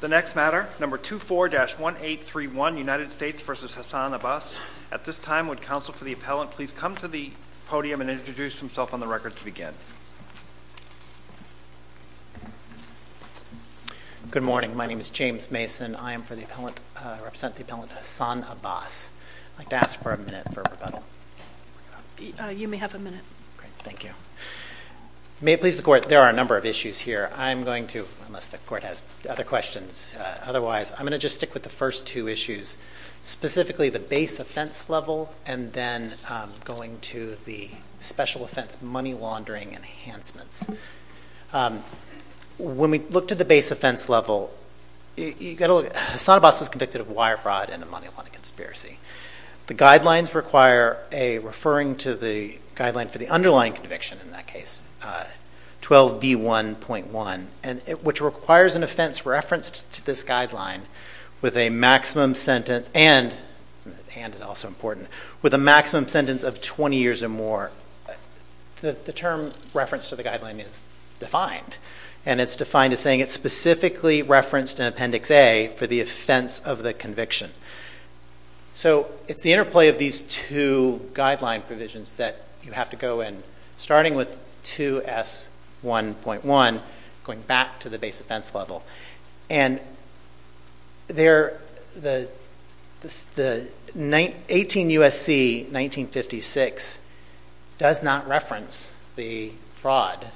The next matter, number 24-1831 United States v. Hassan Abbas. At this time, would counsel for the appellant please come to the podium and introduce himself on the record to begin. Good morning. My name is James Mason. I am for the appellant, represent the appellant Hassan Abbas. I'd like to ask for a minute for rebuttal. You may have a minute. Great, thank you. May it please the court, there are a number of issues here. I'm going to, unless the court has other questions otherwise, I'm going to just stick with the first two issues, specifically the base offense level and then going to the special offense money laundering enhancements. When we look to the base offense level, you gotta look, Hassan Abbas was convicted of wire fraud and a money laundering conspiracy. The guidelines require a referring to the guideline for the underlying conviction in that case, 12b1.1, which requires an offense referenced to this guideline with a maximum sentence and, hand is also important, with a maximum sentence of 20 years or more. The term reference to the guideline is defined and it's defined as saying it's specifically referenced in appendix A for the offense of the conviction. So it's the interplay of these two guideline provisions that you have to go in, starting with 2s1.1, going back to the base offense level. And the 18 U.S.C. 1956 does not reference the fraud,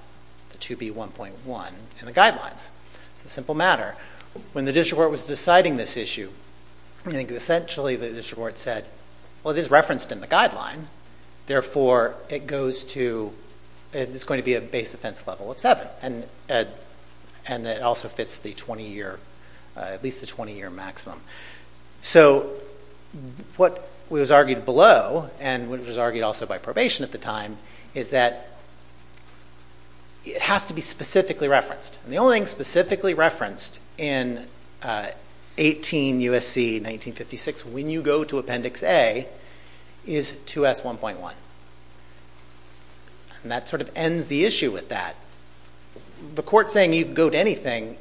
the 2b1.1 in the guidelines. It's a simple matter. When the district court was deciding this issue, I think essentially the district court said, well, it is referenced in the guideline, therefore it goes to, it's going to be a base offense level of seven. And it also fits the 20-year, at least the 20-year maximum. So what was argued below and what was argued also by probation at the time is that it has to be specifically referenced. And the only thing specifically referenced in 18 U.S.C. 1956 when you go to appendix A is 2s1.1. And that sort of ends the issue with that. The court saying you can go to anything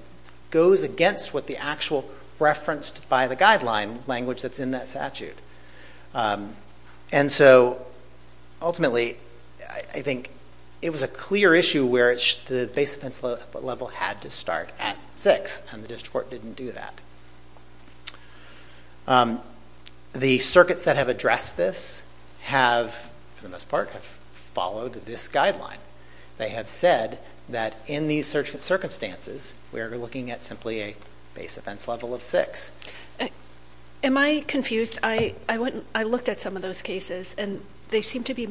goes against what the actual referenced by the guideline language that's in that statute. And so ultimately I think it was a clear issue where the base offense level had to start at six, and the district court didn't do that. The circuits that have addressed this have, for the most part, have followed this guideline. They have said that in these circumstances we are looking at simply a base offense level of six. Am I confused? I looked at some of those cases and they seem to be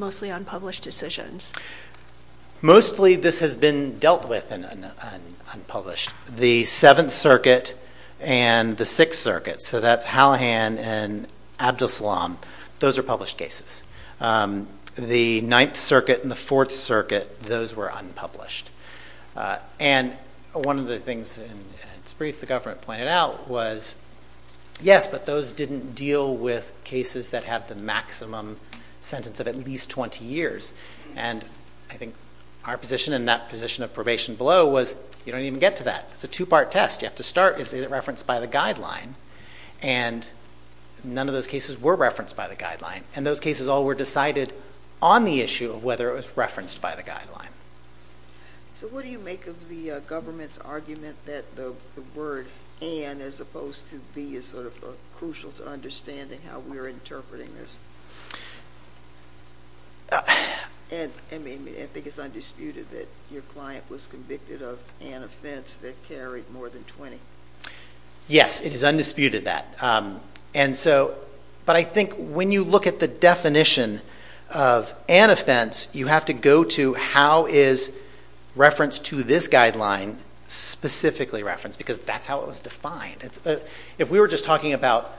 mostly this has been dealt with and unpublished. The Seventh Circuit and the Sixth Circuit, so that's Hallahan and Abdus-Salam, those are published cases. The Ninth Circuit and the Fourth Circuit, those were unpublished. And one of the things in its brief the government pointed out was, yes, but those didn't deal with cases that have the maximum sentence of at least 20 years. And I think our position in that position of probation below was you don't even get to that. It's a two-part test. You have to start, is it referenced by the guideline? And none of those cases were referenced by the guideline. And those cases all were decided on the issue of whether it was referenced by the guideline. So what do you make of the government's argument that the word and as opposed to the sort of crucial to understanding how we're interpreting this? I mean, I think it's undisputed that your client was convicted of an offense that carried more than 20. Yes, it is undisputed that. And so, but I think when you look at the definition of an offense, you have to go to how is reference to this guideline specifically referenced? Because that's how it was defined. If we were just talking about,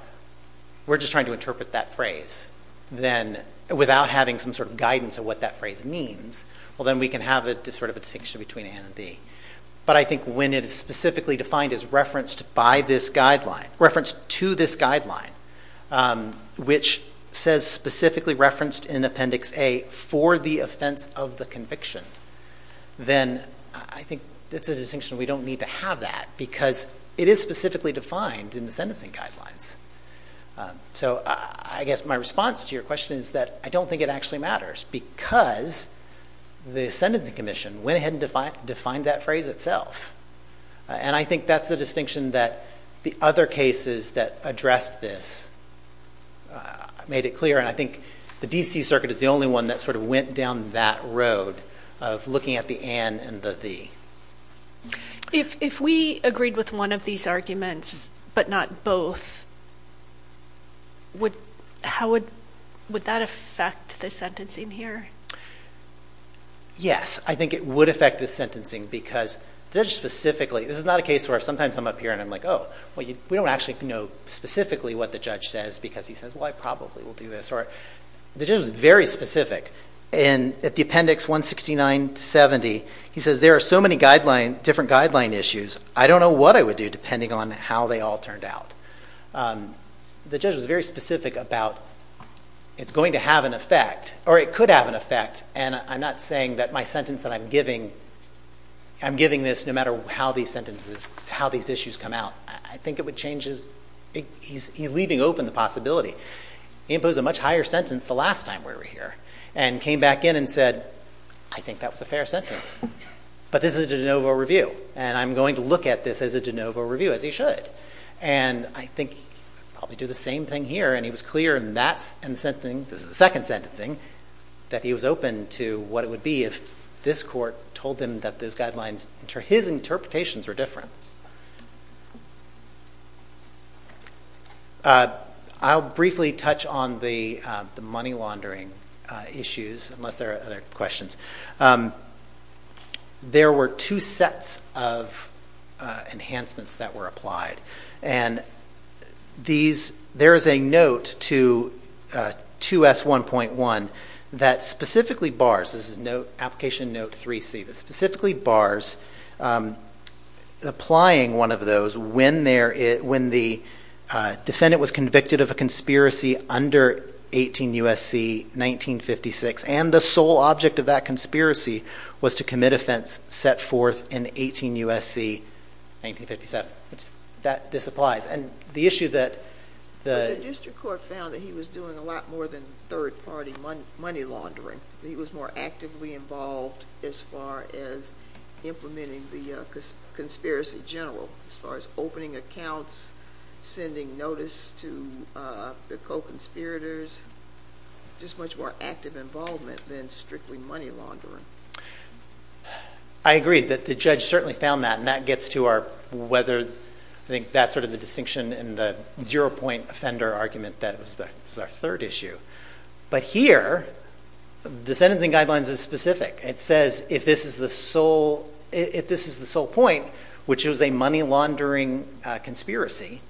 we're just trying to interpret that phrase, then without having some sort of guidance of what that phrase means, well, then we can have a sort of a distinction between A and B. But I think when it is specifically defined as referenced by this guideline, referenced to this guideline, which says specifically referenced in Appendix A for the offense of the conviction, then I think it's a distinction we don't need to have that because it is specifically defined in the sentencing guidelines. So I guess my response to your question is that I don't think it actually matters because the Sentencing Commission went ahead and defined that phrase itself. And I think that's the distinction that the other cases that addressed this made it I think the DC Circuit is the only one that sort of went down that road of looking at the and and the the. If we agreed with one of these arguments but not both, would, how would, would that affect the sentencing here? Yes, I think it would affect the sentencing because there's specifically, this is not a case where sometimes I'm up here and I'm like, oh well you we don't actually know specifically what the judge says because he says well I probably will do this. Or the judge was very specific and at the Appendix 169-70 he says there are so many guideline, different guideline issues, I don't know what I would do depending on how they all turned out. The judge was very specific about it's going to have an effect or it could have an effect and I'm not saying that my sentence that I'm giving, I'm giving this no matter how these sentences, how these issues come out. I think it would change his, he's leaving open the possibility. He imposed a much higher sentence the last time we were here and came back in and said I think that was a fair sentence but this is a de novo review and I'm going to look at this as a de novo review as he should and I think probably do the same thing here and he was clear and that's in the sentencing, this is the second sentencing, that he was open to what it would be if this court told him that those guidelines, his interpretations were different. I'll briefly touch on the money laundering issues unless there are other questions. There were two sets of enhancements that were applied and these, there is a note to 2S1.1 that specifically bars, this is note, application note 3C, that specifically bars applying one of those when there, when the defendant was convicted of a conspiracy under 18 U.S.C. 1956 and the sole object of that conspiracy was to commit offense set forth in 18 U.S.C. 1957. That, this applies and the issue that the district court found that he was doing a lot more than third-party money money laundering. He was more actively involved as far as implementing the conspiracy general as far as opening accounts, sending notice to the co-conspirators, just much more active involvement than strictly money laundering. I agree that the judge certainly found that and that gets to our whether, I think that's sort of the distinction in the zero-point offender argument that was our third issue. But here, the sentencing guidelines is specific. It says if this is the sole, if this is the sole point, which was a money laundering conspiracy,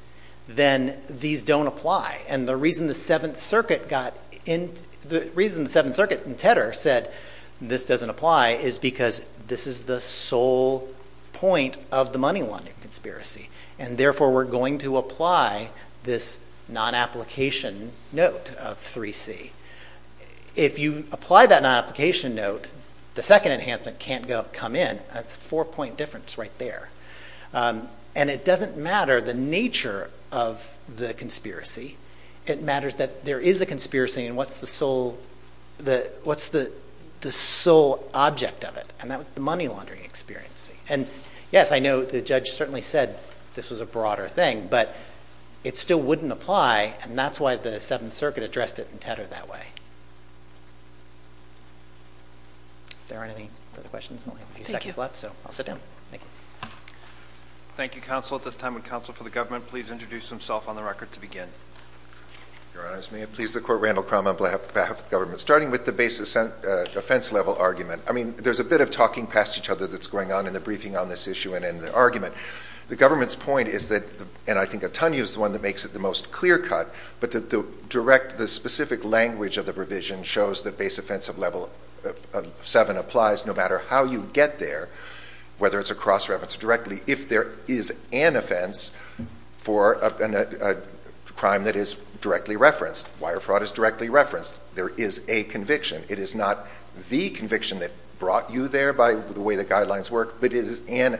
then these don't apply and the reason the Seventh Circuit got in, the reason the Seventh Circuit and Tedder said this doesn't apply is because this is the sole point of the money laundering conspiracy and therefore we're going to apply this non-application note of 3C. If you apply that non-application note, the second enhancement can't go come in. That's a four-point difference right there and it doesn't matter the nature of the conspiracy. It matters that there is a conspiracy and what's the sole, the what's the the sole object of it and that was the money laundering experience. And yes, I know the judge certainly said this was a broader thing, but it still wouldn't apply and that's why the Seventh Circuit addressed it in Tedder that way. There aren't any other questions? Thank you. I'll sit down. Thank you. Thank you, counsel. At this time, would counsel for the government please introduce himself on the record to begin. Your Honor, may it please the Court, Randall Crownman on behalf of the government. Starting with the base offense level argument, I mean there's a bit of talking past each other that's going on in the briefing on this issue and in the argument. The government's point is that, and I think Atanya is the one that makes it the most clear-cut, but that the direct, the specific language of the provision shows that base offense of level seven applies no matter how you get there, whether it's a cross-reference directly, if there is an offense for a crime that is directly referenced, wire fraud is directly referenced, there is a conviction. It is not the conviction that brought you there by the way the guidelines work, but it is a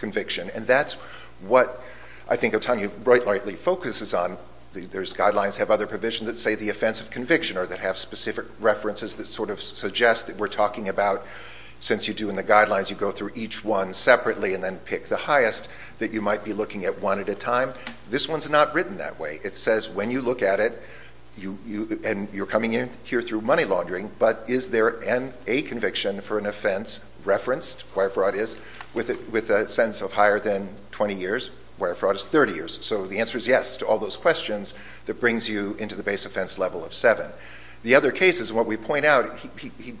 conviction. And that's what I think Atanya rightly focuses on. Those guidelines have other provisions that say the offense of conviction or that have specific references that sort of suggest that we're talking about, since you do in the guidelines, you go through each one separately and then pick the highest that you might be looking at one at a time. This one's not written that way. It says when you look at it, and you're coming in here through money laundering, but is there an a conviction for an offense referenced, wire fraud is, with a sentence of higher than 20 years, wire fraud is 30 years. So the answer is yes to all those questions that brings you into the base offense level of seven. The other cases, what we point out,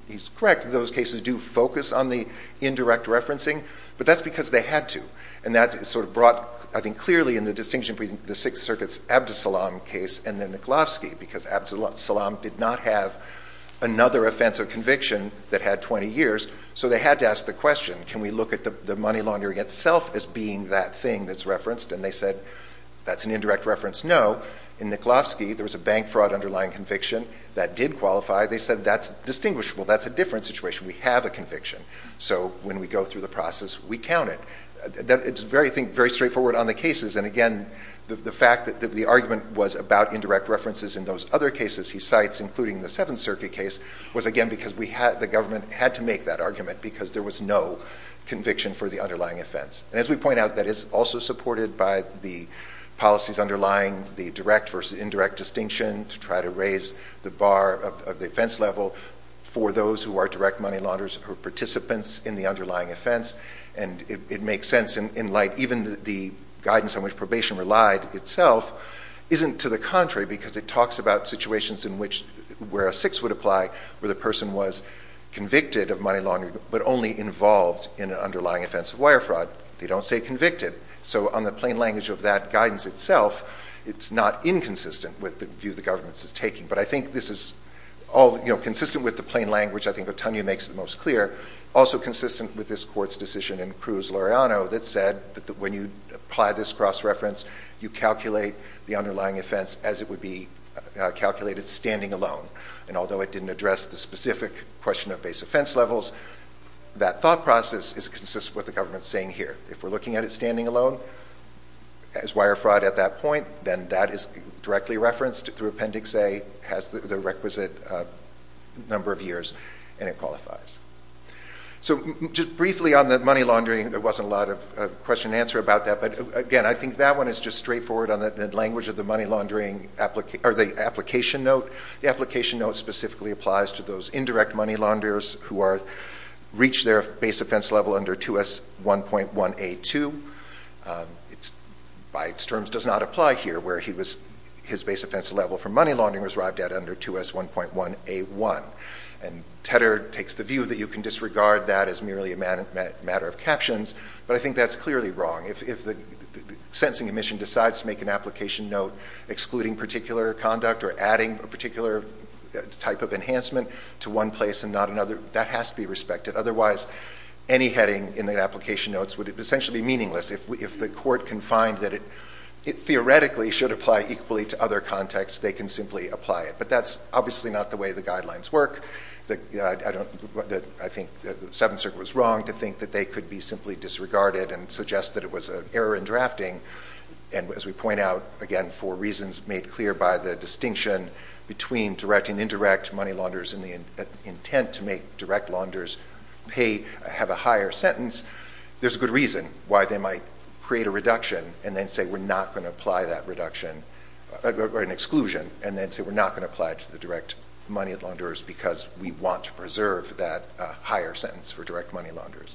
he's correct, those cases do focus on the indirect referencing, but that's because they had to. And that sort of brought, I think, clearly in the distinction between the Sixth Circuit's Abdus Salaam case and the Nikolovsky, because Abdus Salaam did not have another offense of conviction that had 20 years. So they had to ask the question, can we look at the money laundering itself as being that thing that's referenced? And they said, that's an indirect reference, no. In Nikolovsky, there was a bank fraud underlying conviction that did qualify. They said, that's distinguishable. That's a different situation. We have a conviction. So when we go through the process, we count it. It's very straightforward on the cases. And again, the fact that the argument was about indirect references in those other cases he cites, including the Seventh Circuit case, was again, because we had, the government had to make that argument because there was no conviction for the underlying offense. And as we point out, that is also supported by the policies underlying the direct versus indirect distinction to try to raise the bar of the offense level for those who are direct money launderers or participants in the underlying offense. And it makes sense in light, even the guidance on which probation relied itself, isn't to the contrary, because it talks about situations in which, where a six would apply, where the person was convicted of money laundering, but only involved in an underlying offense of wire fraud. They don't say convicted. So on the plain language of that guidance itself, it's not inconsistent with the view the government is taking. But I think this is all, you know, consistent with the plain language, I think Otonio makes the most clear, also consistent with this court's decision in Cruz-Loreano that said that when you apply this cross-reference, you calculate the underlying offense as it would be calculated standing alone. And although it didn't address the specific question of base offense levels, that thought process is consistent with the government saying here, if we're looking at it standing alone as wire fraud at that point, then that is directly referenced through Appendix A, has the requisite number of years, and it qualifies. So just briefly on the money laundering, there wasn't a lot of question and answer about that. But again, I think that one is just straightforward on the language of the money laundering application, or the application note. The application note specifically applies to those indirect money launderers who are, reach their base offense level under 2S1.1A2. It's, by its terms, does not apply here, where he was, his base offense level for money laundering was arrived at under 2S1.1A1. And Tedder takes the view that you can disregard that as merely a matter of captions. But I think that's clearly wrong. If the sentencing commission decides to make an application note excluding particular conduct or adding a particular type of enhancement to one place and not another, that has to be respected. Otherwise, any heading in the application notes would essentially be meaningless. If the court can find that it theoretically should apply equally to other contexts, they can simply apply it. But that's obviously not the way the guidelines work. I think the Seventh Circuit was wrong to think that they could be simply disregarded and suggest that it was an error in drafting. And as we point out, again, for reasons made clear by the distinction between direct and indirect money launderers and the intent to make direct launderers pay, have a higher sentence, there's a good reason why they might create a reduction and then say, we're not going to apply that reduction, or an exclusion, and then say we're not going to apply it to the direct money launderers because we want to preserve that higher sentence for direct money launderers.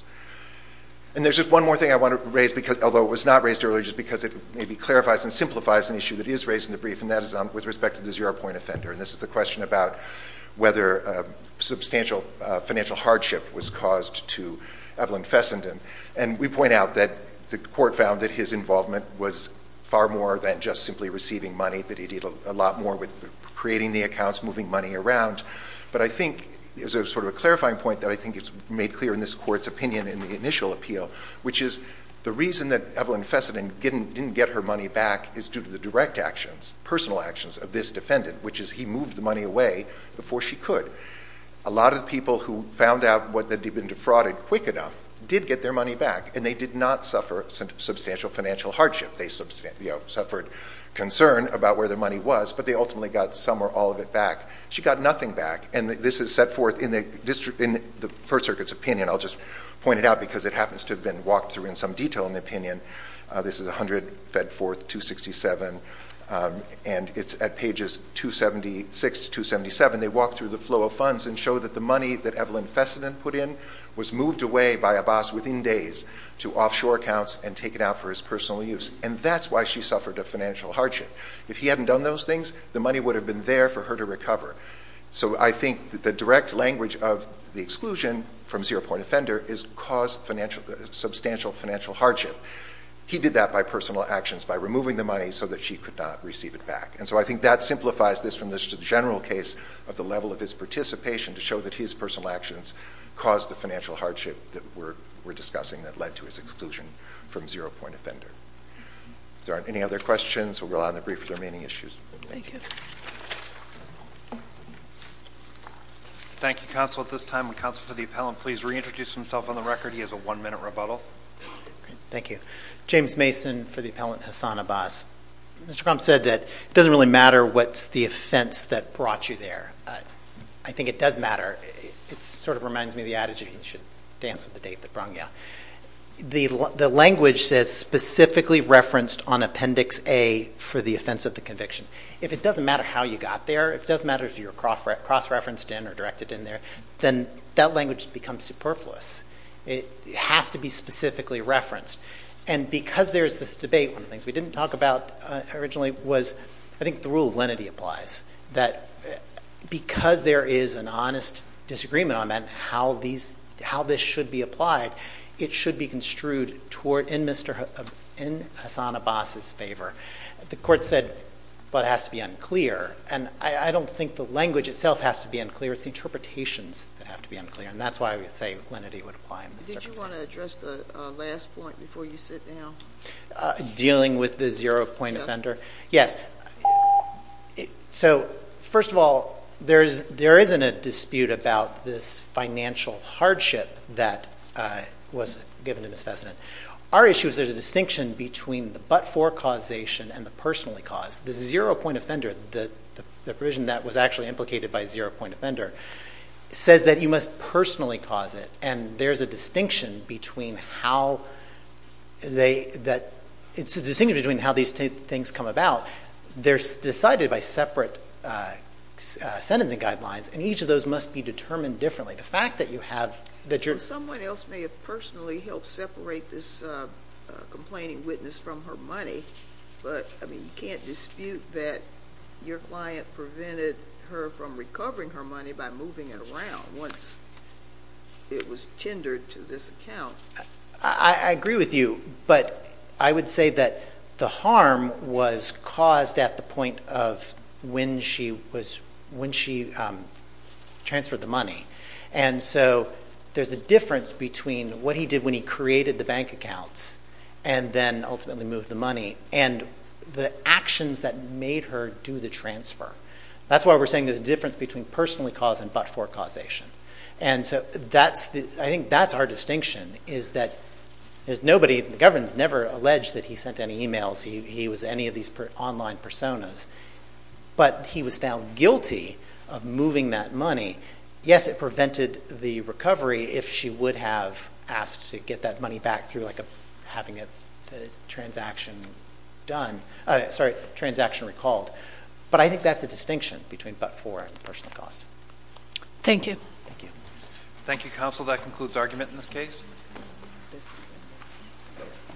And there's just one more thing I want to raise, although it was not raised earlier, just because it maybe clarifies and simplifies an issue that is raised in the brief, and that is with respect to the zero-point offender. And this is the question about whether substantial financial hardship was caused to Evelyn Fessenden. And we point out that the court found that his involvement was far more than just simply receiving money, that he did a lot more with creating the accounts, moving money around. But I think there's a sort of a clarifying point that I think is made clear in this court's opinion in the initial appeal, which is the reason that Evelyn Fessenden didn't get her money back is due to the direct actions, personal actions of this defendant, which is he moved the money away before she could. A lot of people who found out that they'd been defrauded quick enough did get their money back, and they did not suffer substantial financial hardship. They suffered concern about where their money was, but they ultimately got some or all of it back. She got nothing back. And this is set forth in the First Circuit's opinion. I'll just point it out because it happens to have been walked through in some detail in the opinion. This is 100 Fedforth 267, and it's at pages 276 to 277. They walk through the flow of funds and show that the money that Evelyn Fessenden put in was moved away by a boss within days to offshore accounts and taken out for his personal use. And that's why she suffered a financial hardship. If he hadn't done those things, the money would have been there for her to recover. So I think that the direct language of the exclusion from zero point offender is caused substantial financial hardship. He did that by personal actions by removing the money so that she could not receive it back. And so I think that simplifies this from this to the general case of the level of his participation to show that his personal actions caused the financial exclusion from zero point offender. If there aren't any other questions, we'll go on the brief for the remaining issues. Thank you. Thank you, counsel. At this time, the counsel for the appellant, please reintroduce himself on the record. He has a one minute rebuttal. Thank you. James Mason for the appellant, Hassan Abbas. Mr. Crump said that it doesn't really matter what's the offense that brought you there. I think it does matter. It sort of reminds me of the adage, you should dance with the date that brung you. The language says specifically referenced on appendix A for the offense of the conviction. If it doesn't matter how you got there, if it doesn't matter if you're cross referenced in or directed in there, then that language becomes superfluous. It has to be specifically referenced. And because there's this debate, one of the things we didn't talk about originally was, I think the rule of lenity applies, that because there is an honest disagreement on that, how this should be applied, it should be construed in Hassan Abbas's favor. The court said, but it has to be unclear. And I don't think the language itself has to be unclear. It's the interpretations that have to be unclear. And that's why I would say lenity would apply in this circumstance. Did you want to address the last point before you sit down? Dealing with the zero point offender? Yes. So first of all, there isn't a dispute about this financial hardship that was given to Ms. Fessenden. Our issue is there's a distinction between the but-for causation and the personally caused. The zero point offender, the provision that was actually implicated by zero point offender, says that you must personally cause it. And there's a distinction between how they, that it's they're decided by separate sentencing guidelines. And each of those must be determined differently. The fact that you have, that you're, someone else may have personally helped separate this complaining witness from her money. But I mean, you can't dispute that your client prevented her from recovering her money by moving it around once it was tendered to this account. I agree with you. But I would say that the harm was caused at the point of when she was, when she transferred the money. And so there's a difference between what he did when he created the bank accounts, and then ultimately moved the money, and the actions that made her do the transfer. That's why we're saying there's a difference between personally caused and but-for causation. And so that's the, I think that's our distinction, is that there's nobody, the government's never alleged that he sent any emails, he was any of these online personas. But he was found guilty of moving that money. Yes, it prevented the recovery if she would have asked to get that money back through like a, having a transaction done. Sorry, transaction recalled. But I think that's a distinction between but-for and personally caused. Thank you. Thank you. Thank you, counsel. That concludes argument in this case.